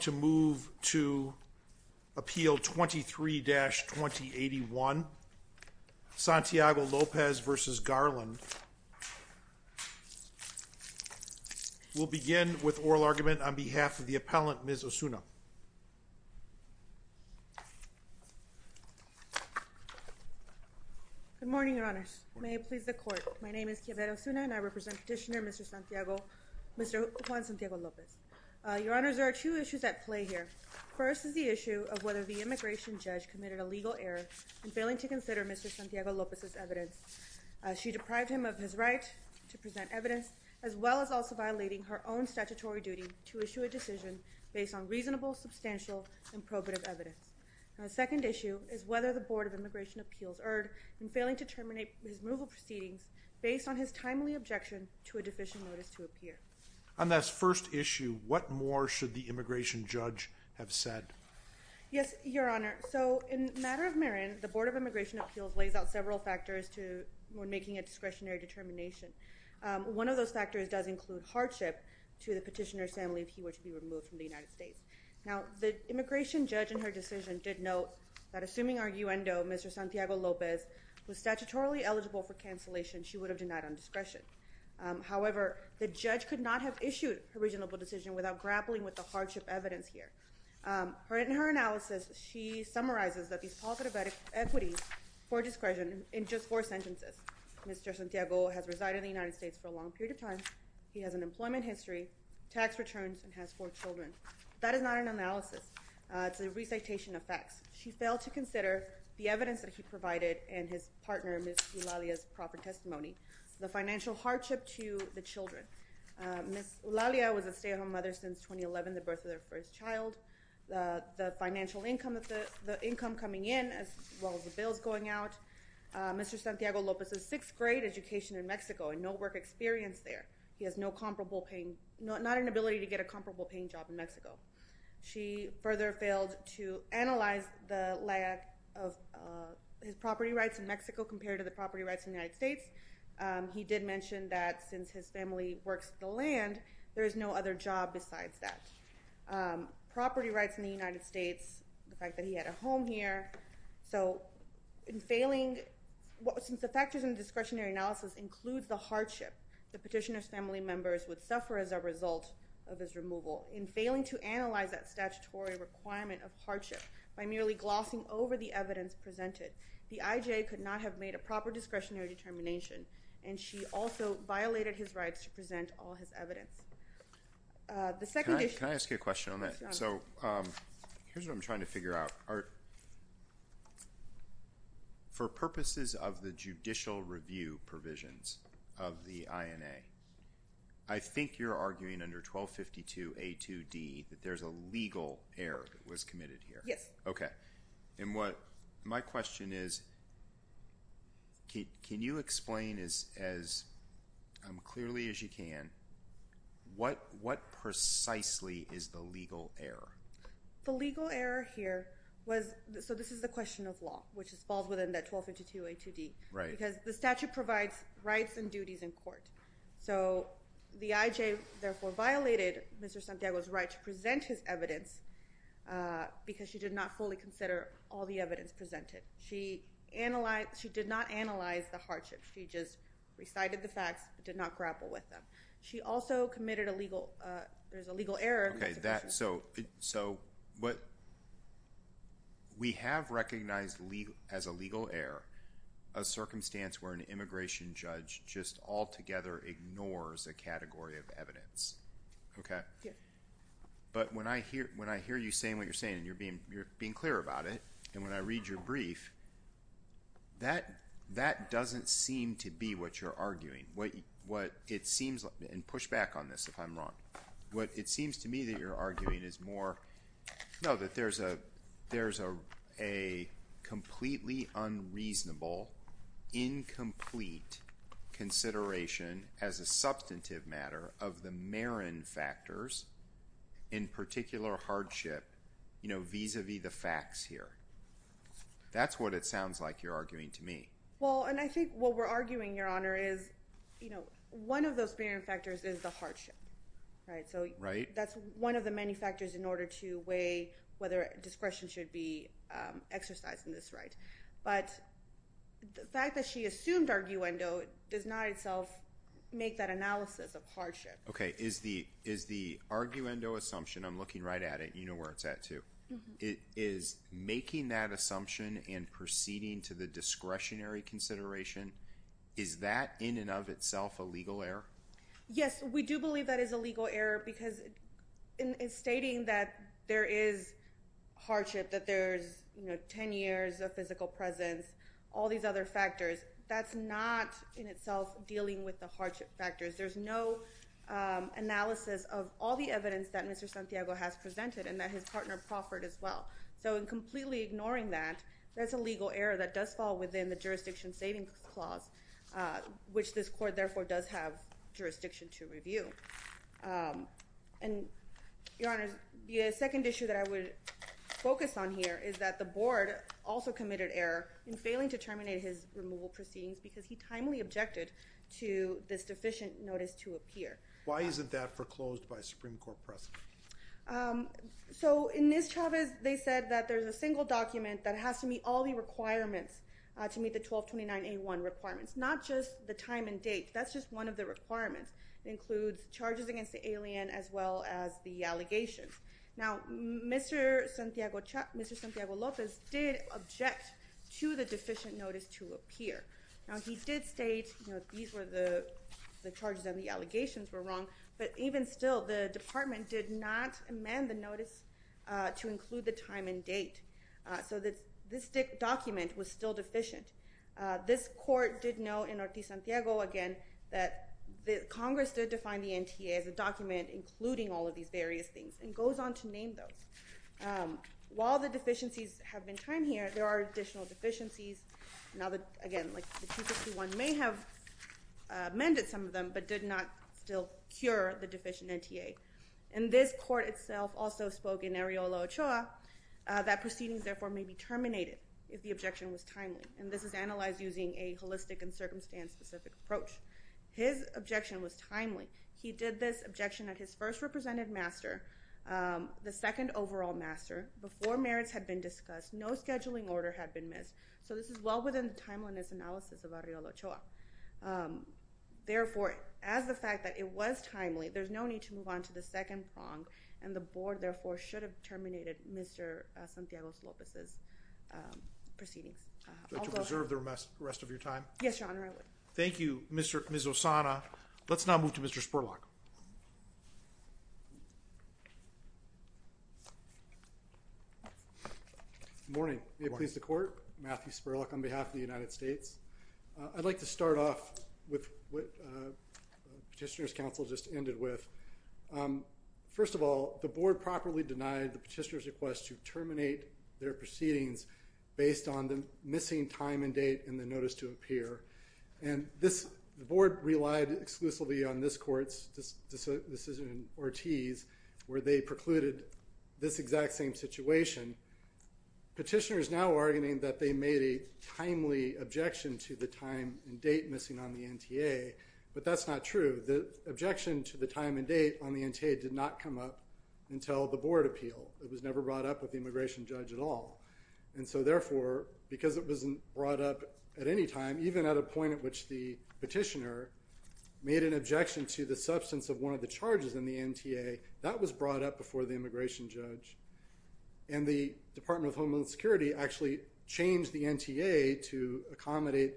to move to appeal 23-2081 Santiago Lopez v. Garland. We'll begin with oral argument on behalf of the appellant Ms. Osuna. Good morning your honors. May it please the court. My name is Kiavera Osuna and I represent petitioner Mr. Santiago, Mr. Juan Santiago Lopez. Your honor, I have two issues at play here. First is the issue of whether the immigration judge committed a legal error in failing to consider Mr. Santiago Lopez's evidence. She deprived him of his right to present evidence as well as also violating her own statutory duty to issue a decision based on reasonable, substantial, and probative evidence. The second issue is whether the Board of Immigration Appeals erred in failing to terminate his removal proceedings based on his timely objection to a deficient notice to appear. On this first issue, what more should the immigration judge have said? Yes, your honor. So in matter of merit, the Board of Immigration Appeals lays out several factors to making a discretionary determination. One of those factors does include hardship to the petitioner's family if he were to be removed from the United States. Now the immigration judge in her decision did note that assuming our U.N.O., Mr. Santiago Lopez was statutorily eligible for cancellation, she would have denied on discretion. However, the judge could not have issued a reasonable decision without grappling with the hardship evidence here. In her analysis, she summarizes that these positive equities for discretion in just four sentences. Mr. Santiago has resided in the United States for a long period of time. He has an employment history, tax returns, and has four children. That is not an analysis. It's a recitation of facts. She failed to consider the evidence that he provided and his partner, Ms. Ulalia's, proper testimony. The financial hardship to the children. Ms. Ulalia was a stay-at-home mother since 2011, the birth of their first child. The financial income coming in as well as the bills going out. Mr. Santiago Lopez's sixth grade education in Mexico and no work experience there. He has no comparable paying, not an ability to get a comparable paying job in Mexico. She further failed to analyze the lack of his property rights in Mexico compared to the he did mention that since his family works the land, there is no other job besides that. Property rights in the United States, the fact that he had a home here. So in failing, since the factors in the discretionary analysis includes the hardship, the petitioner's family members would suffer as a result of his removal. In failing to analyze that statutory requirement of hardship by merely glossing over the evidence presented, the IJA could not have made a proper discretionary determination and she also violated his rights to present all his evidence. Can I ask you a question on that? So here's what I'm trying to figure out. For purposes of the judicial review provisions of the INA, I think you're arguing under 1252 A2D that there's a legal error that was committed here. Yes. Okay. My question is, can you explain as clearly as you can, what precisely is the legal error? The legal error here was, so this is the question of law, which falls within that 1252 A2D. Right. Because the statute provides rights and duties in court. So the IJA therefore violated Mr. Santiago's right to present his evidence because she did not fully consider all the evidence presented. She did not analyze the hardship. She just recited the facts, but did not grapple with them. She also committed a legal, there's a legal error. Okay. So we have recognized as a legal error, a circumstance where an individual just altogether ignores a category of evidence. Okay. But when I hear you saying what you're saying and you're being clear about it, and when I read your brief, that doesn't seem to be what you're arguing. What it seems, and push back on this if I'm wrong, what it seems to be is that there is a consideration as a substantive matter of the Marin factors in particular hardship, you know, vis-a-vis the facts here. That's what it sounds like you're arguing to me. Well, and I think what we're arguing, Your Honor, is, you know, one of those Marin factors is the hardship. Right. So that's one of the many factors in order to weigh whether discretion should be in itself make that analysis of hardship. Okay. Is the arguendo assumption, I'm looking right at it, you know where it's at too, is making that assumption and proceeding to the discretionary consideration, is that in and of itself a legal error? Yes, we do believe that is a legal error because in stating that there is hardship, that there's, you know, 10 years of physical presence, all these other factors, that's not in itself dealing with the hardship factors. There's no analysis of all the evidence that Mr. Santiago has presented and that his partner proffered as well. So in completely ignoring that, that's a legal error that does fall within the jurisdiction savings clause, which this court therefore does have jurisdiction to review. And, Your Honor, the second issue that I would focus on here is that the board also committed error in failing to terminate his removal proceedings because he timely objected to this deficient notice to appear. Why isn't that foreclosed by Supreme Court precedent? So in this, Chavez, they said that there's a single document that has to meet all the requirements to meet the 1229A1 requirements, not just the time and date, that's just one of the requirements. It includes charges against the alien as well as the allegations. Now, Mr. Santiago, Mr. Santiago Lopez did object to the deficient notice to appear. Now, he did state, you know, these were the charges and the allegations were wrong, but even still the department did not amend the notice to include the time and date. So that this document was still deficient. This court did know in Ortiz-Santiago, again, that the Congress did define the NTA as a document including all of these various things and goes on to name those. While the deficiencies have been time here, there are additional deficiencies. Now that, again, like the 221 may have amended some of them but did not still cure the deficient NTA. And this court itself also spoke in Areola-Ochoa that proceedings therefore may be terminated if the objection was timely. And this is analyzed using a holistic and circumstance-specific approach. His objection was timely. He did this objection at his first representative master, the second overall master, before merits had been discussed, no scheduling order had been missed. So this is well within the timeliness analysis of Areola-Ochoa. Therefore, as the fact that it was timely, there's no need to move on to the second prong and the board therefore should have terminated Mr. Spurlock's proceedings. Would you like to reserve the rest of your time? Yes, Your Honor, I would. Thank you, Ms. Osana. Let's now move to Mr. Spurlock. Good morning. May it please the court. Matthew Spurlock on behalf of the United States. I'd like to start off with what Petitioner's Council just ended with. First of all, the board properly denied the petitioner's request to terminate their proceedings based on the missing time and date in the notice to appear. And the board relied exclusively on this court's decision in Ortiz where they precluded this exact same situation. Petitioner's now arguing that they made a timely objection to the time and date missing on the NTA, but that's not true. The objection to the time and date on the NTA did not come up until the board appeal. It was never brought up with the immigration judge at all. And so therefore, because it wasn't brought up at any time, even at a point at which the petitioner made an objection to the substance of one of the charges in the NTA, that was brought up before the immigration judge. And the Department of Homeland Security actually changed the NTA to accommodate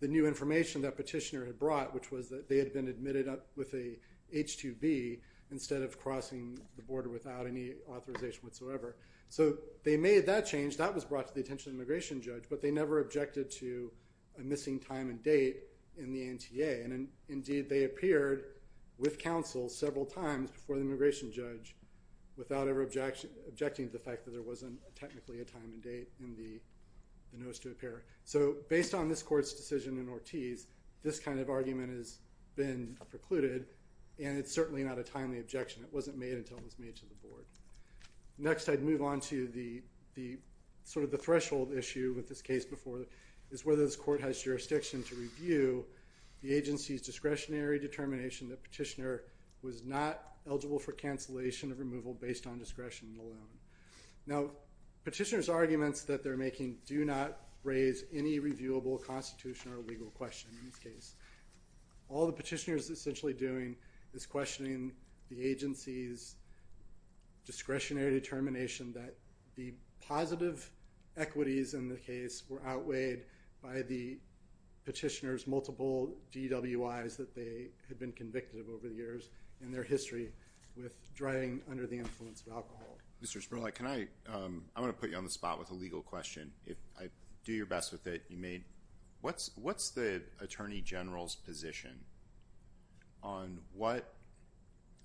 the new information that petitioner had brought, which was that they had been admitted up with a H-2B instead of crossing the border without any authorization whatsoever. So they made that change. That was brought to the attention of immigration judge, but they never objected to a missing time and date in the NTA. And indeed, they appeared with counsel several times before the immigration judge without ever objecting to the fact that there wasn't technically a time and date in the NTA. This kind of argument has been precluded, and it's certainly not a timely objection. It wasn't made until it was made to the board. Next, I'd move on to the sort of the threshold issue with this case before, is whether this court has jurisdiction to review the agency's discretionary determination that petitioner was not eligible for cancellation of removal based on discretion alone. Now, petitioner's arguments that they're making do not raise any reviewable constitution or legal question in this case. All the petitioner is essentially doing is questioning the agency's discretionary determination that the positive equities in the case were outweighed by the petitioner's multiple DWIs that they had been convicted of over the years in their history with driving under the influence of alcohol. Mr. Sperlite, can I, I want to put you on the spot with a legal question. Do your best with it. What's the Attorney General's position on what,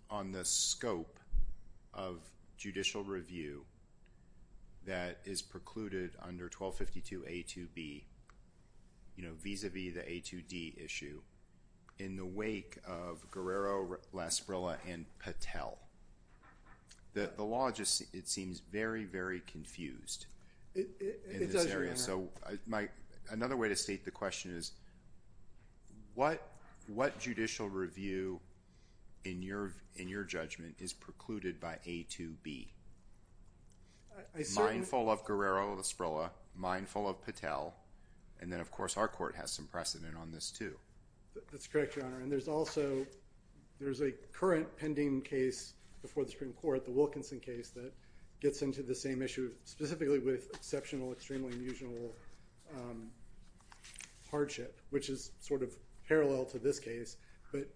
on the scope of judicial review that is precluded under 1252 A2B, you know, vis-a-vis the A2D issue in the wake of Guerrero, Lasparilla, and Patel? The law just, it seems very, very confused. It does, Your Honor. So, my, another way to state the question is what, what judicial review in your, in your judgment is precluded by A2B? Mindful of Guerrero, Lasparilla, mindful of Patel, and then, of course, our court has some precedent on this, too. That's correct, Your Honor, and there's also, there's a current pending case before the Supreme Court, the Wilkinson case, that gets into the same issue specifically with exceptional, extremely unusual hardship, which is sort of parallel to this case, but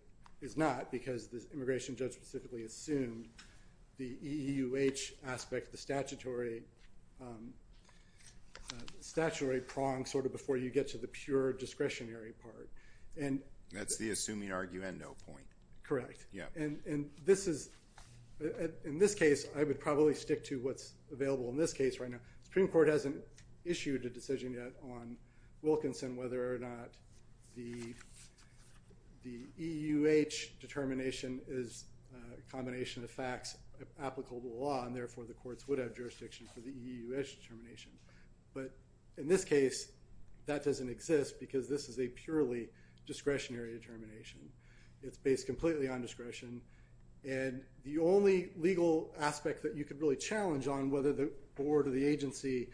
is not because the immigration judge specifically assumed the EUH aspect, the statutory, statutory prong, sort of, before you get to the pure discretionary part. And that's the assuming arguendo point. Correct. Yeah. And, and this is, in this case, I would probably stick to what's available in this case right now. The Supreme Court hasn't issued a combination of facts applicable to the law, and therefore, the courts would have jurisdiction for the EUH determination, but in this case, that doesn't exist because this is a purely discretionary determination. It's based completely on discretion, and the only legal aspect that you could really challenge on whether the board or the agency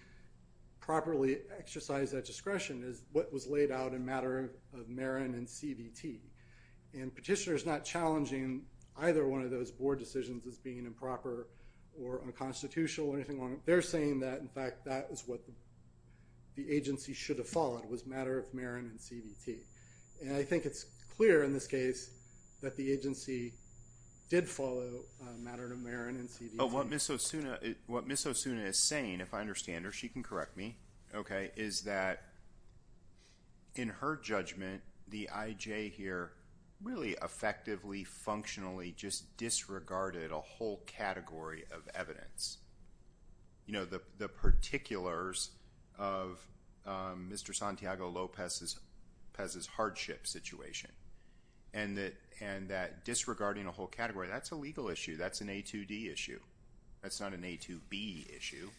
properly exercised that discretion is what was as being improper or unconstitutional or anything along, they're saying that, in fact, that is what the agency should have followed was matter of Marin and CVT. And I think it's clear in this case that the agency did follow a matter of Marin and CVT. But what Ms. Osuna, what Ms. Osuna is saying, if I understand her, she can correct me, okay, is that in her judgment, the IJ here really effectively, functionally just disregarded a whole category of evidence. You know, the, the particulars of Mr. Santiago Lopez's, Pez's hardship situation, and that, and that disregarding a whole category, that's a legal issue. That's an A2D issue. That's not an A2B issue.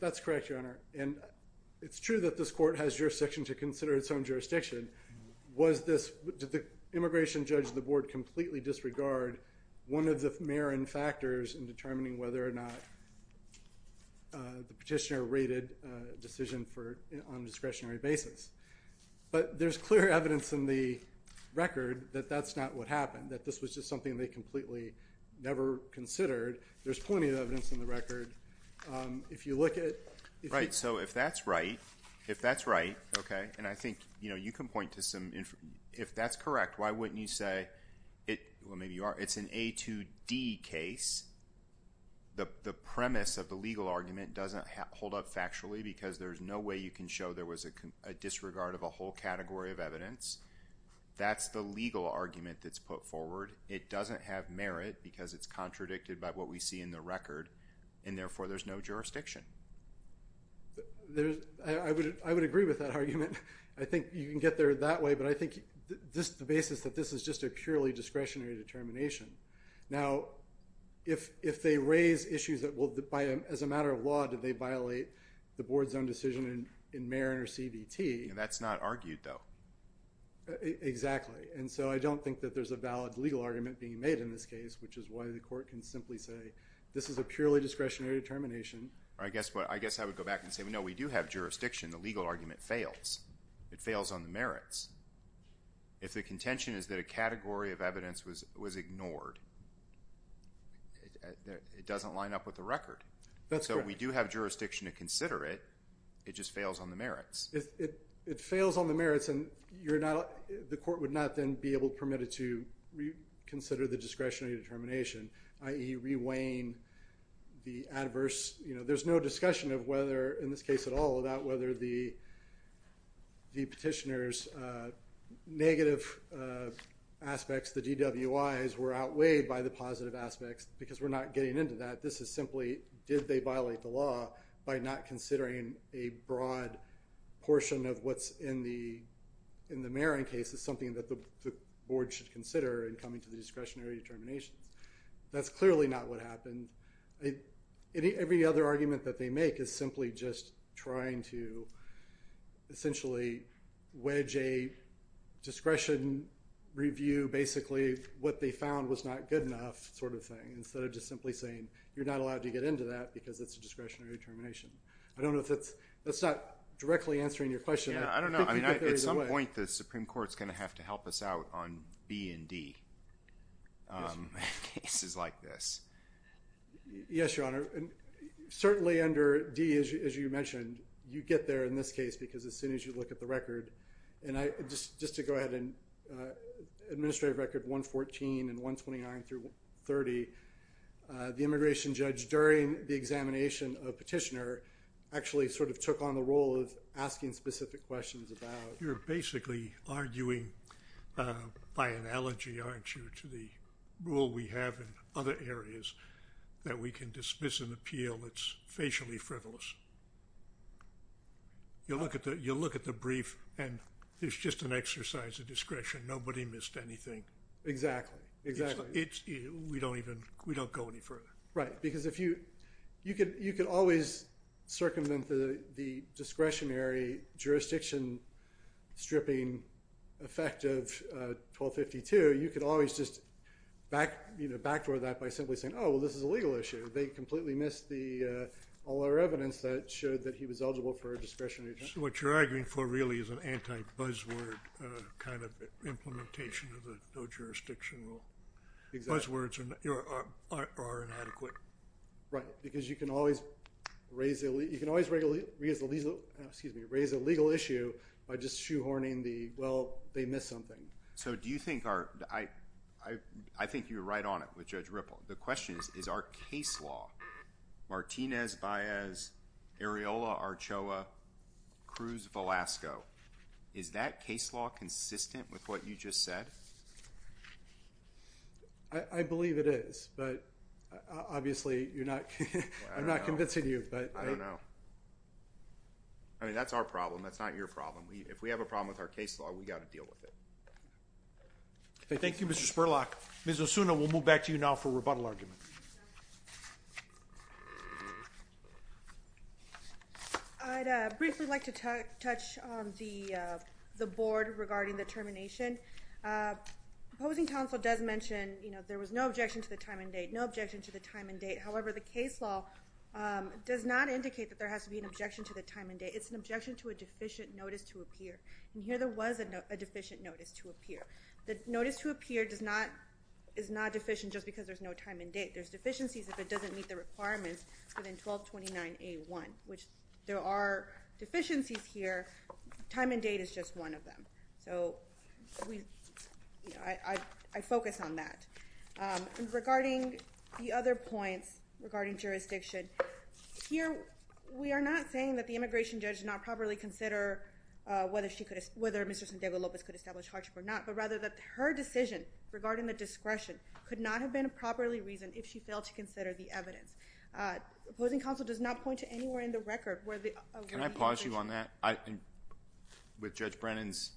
That's correct, Your Honor, and it's true that this court has jurisdiction to consider its own the board completely disregard one of the Marin factors in determining whether or not the petitioner rated a decision for, on a discretionary basis. But there's clear evidence in the record that that's not what happened, that this was just something they completely never considered. There's plenty of evidence in the record. If you look at it. Right, so if that's right, if that's right, okay, and I think, you know, if that's correct, why wouldn't you say, well, maybe you are, it's an A2D case. The premise of the legal argument doesn't hold up factually because there's no way you can show there was a disregard of a whole category of evidence. That's the legal argument that's put forward. It doesn't have merit because it's contradicted by what we see in the record, and therefore there's no jurisdiction. There's, I would, I would agree with that argument. I think you can get there that way, but I think the basis that this is just a purely discretionary determination. Now, if they raise issues that will, as a matter of law, do they violate the board's own decision in Marin or CBT? That's not argued, though. Exactly, and so I don't think that there's a valid legal argument being made in this case, which is why the court can simply say, this is a purely discretionary determination. I guess what, I guess I would go back and say, no, we do have jurisdiction. The legal argument fails. It fails on the merits. If the contention is that a category of evidence was ignored, it doesn't line up with the record. So we do have jurisdiction to consider it. It just fails on the merits. It fails on the merits, and you're not, the court would not then be able to permit it to consider the discretionary determination, i.e. re-weigh in the adverse, you know, there's no discussion of whether, in this case at all, about whether the petitioner's negative aspects, the DWIs, were outweighed by the positive aspects, because we're not getting into that. This is simply, did they violate the law by not considering a broad portion of what's in the Marin case as something that the board should consider in coming to the discretionary determinations? That's clearly not what happened. Every other argument that they make is simply just trying to essentially wedge a discretion review, basically what they found was not good enough sort of thing, instead of just simply saying, you're not allowed to get into that because it's a discretionary determination. I don't know if that's, that's not directly answering your question. I don't know. I mean, at some point the Supreme Court's going to have to help us out on B and D cases like this. Yes, Your Honor. Certainly under D, as you mentioned, you get there in this case, because as soon as you look at the record, and I just, just to go ahead and administrative record 114 and 129 through 30, the immigration judge during the examination of petitioner actually sort of took on the role of asking specific questions about. You're basically arguing by analogy, aren't you, to the rule we have in other areas that we can dismiss an appeal that's facially frivolous. You'll look at the, you'll look at the brief and there's just an exercise of discretion. Nobody missed anything. Exactly. Exactly. It's, we don't even, we don't go any further. Right. Because if you, you could, you could always circumvent the, the discretionary jurisdiction stripping effect of 1252. You could always just back, you know, backdoor that by simply saying, oh, well, this is a legal issue. They completely missed the, all our evidence that showed that he was eligible for a discretionary. What you're arguing for really is an anti-buzzword kind of implementation of the no jurisdiction rule. Exactly. Buzzwords are inadequate. Right. Because you can always raise the, you can always raise the legal, excuse me, raise a legal issue by just shoehorning the, well, they missed something. So do you think our, I, I, I think you were right on it with Judge Ripple. The question is, is our case law, Martinez-Baez, Areola-Archoa, Cruz-Velasco, is that case law consistent with what you just said? I, I believe it is, but obviously you're not, I'm not convincing you, but I don't know. I mean, that's our problem. That's not your problem. We, if we have a problem with our case law, we got to deal with it. Thank you, Mr. Spurlock. Ms. Osuna, we'll move back to you now for rebuttal arguments. I'd briefly like to touch on the, the board regarding the termination. Opposing counsel does mention, you know, there was no objection to the time and date, no objection to the time and date. However, the case law does not indicate that there has to be an objection to the time and date. It's an objection to a deficient notice to appear. And here there was a deficient notice to appear. The notice to appear does not, is not deficient just because there's no time and date. There's deficiencies if it doesn't meet the requirements within 1229A1, which there are deficiencies here. Time and date is just one of them. So we, you know, I, I, I focus on that. Regarding the other points regarding jurisdiction here, we are not saying that the immigration judge did not properly consider whether she could, whether Mr. San Diego Lopez could establish hardship or not, but rather that her decision regarding the discretion could not have been properly reasoned if she failed to consider the evidence. Opposing counsel does not point to anywhere in the record where the— Can I pause you on that? With Judge Brennan's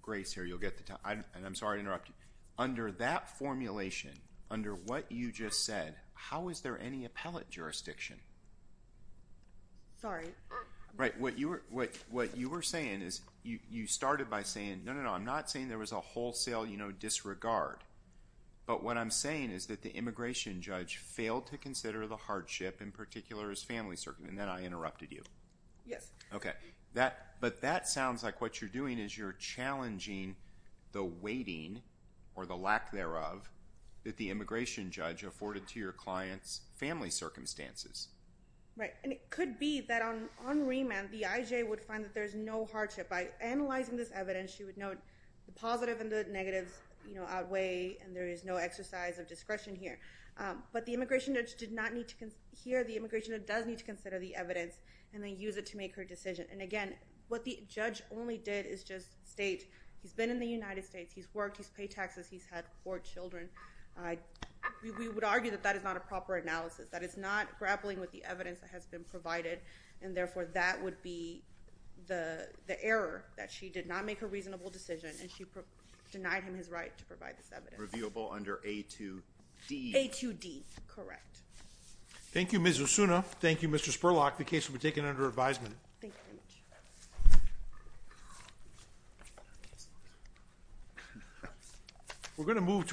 grace here, you'll get the time. And I'm sorry to interrupt you. Under that formulation, under what you just said, how is there any appellate jurisdiction? Sorry. Right. What you were, what, what you were saying is you, you started by saying, no, no, no, I'm not saying there was a wholesale, you know, disregard. But what I'm saying is that the immigration judge failed to consider the hardship, in particular his family circumstances. And then I interrupted you. Yes. Okay. That, but that sounds like what you're doing is you're challenging the weighting or the lack thereof that the immigration judge afforded to your client's family circumstances. Right. And it could be that on, on remand, the IJ would find that there's no hardship. By analyzing this evidence, she would note the positive and the negatives, you know, outweigh, and there is no exercise of discretion here. But the immigration judge did not need to, here the immigration judge does need to consider the evidence and then use it to make her decision. And again, what the judge only did is just state he's been in the United States, he's worked, he's paid taxes, he's had four children. We would argue that that is not a proper analysis, that it's not grappling with the evidence that has been provided. And therefore that would be the error that she did not make a reasonable decision and she denied him his right to provide this evidence. Reviewable under A2D. A2D. Correct. Thank you, Ms. Osuna. Thank you, Mr. Spurlock. The case will be taken under advisement.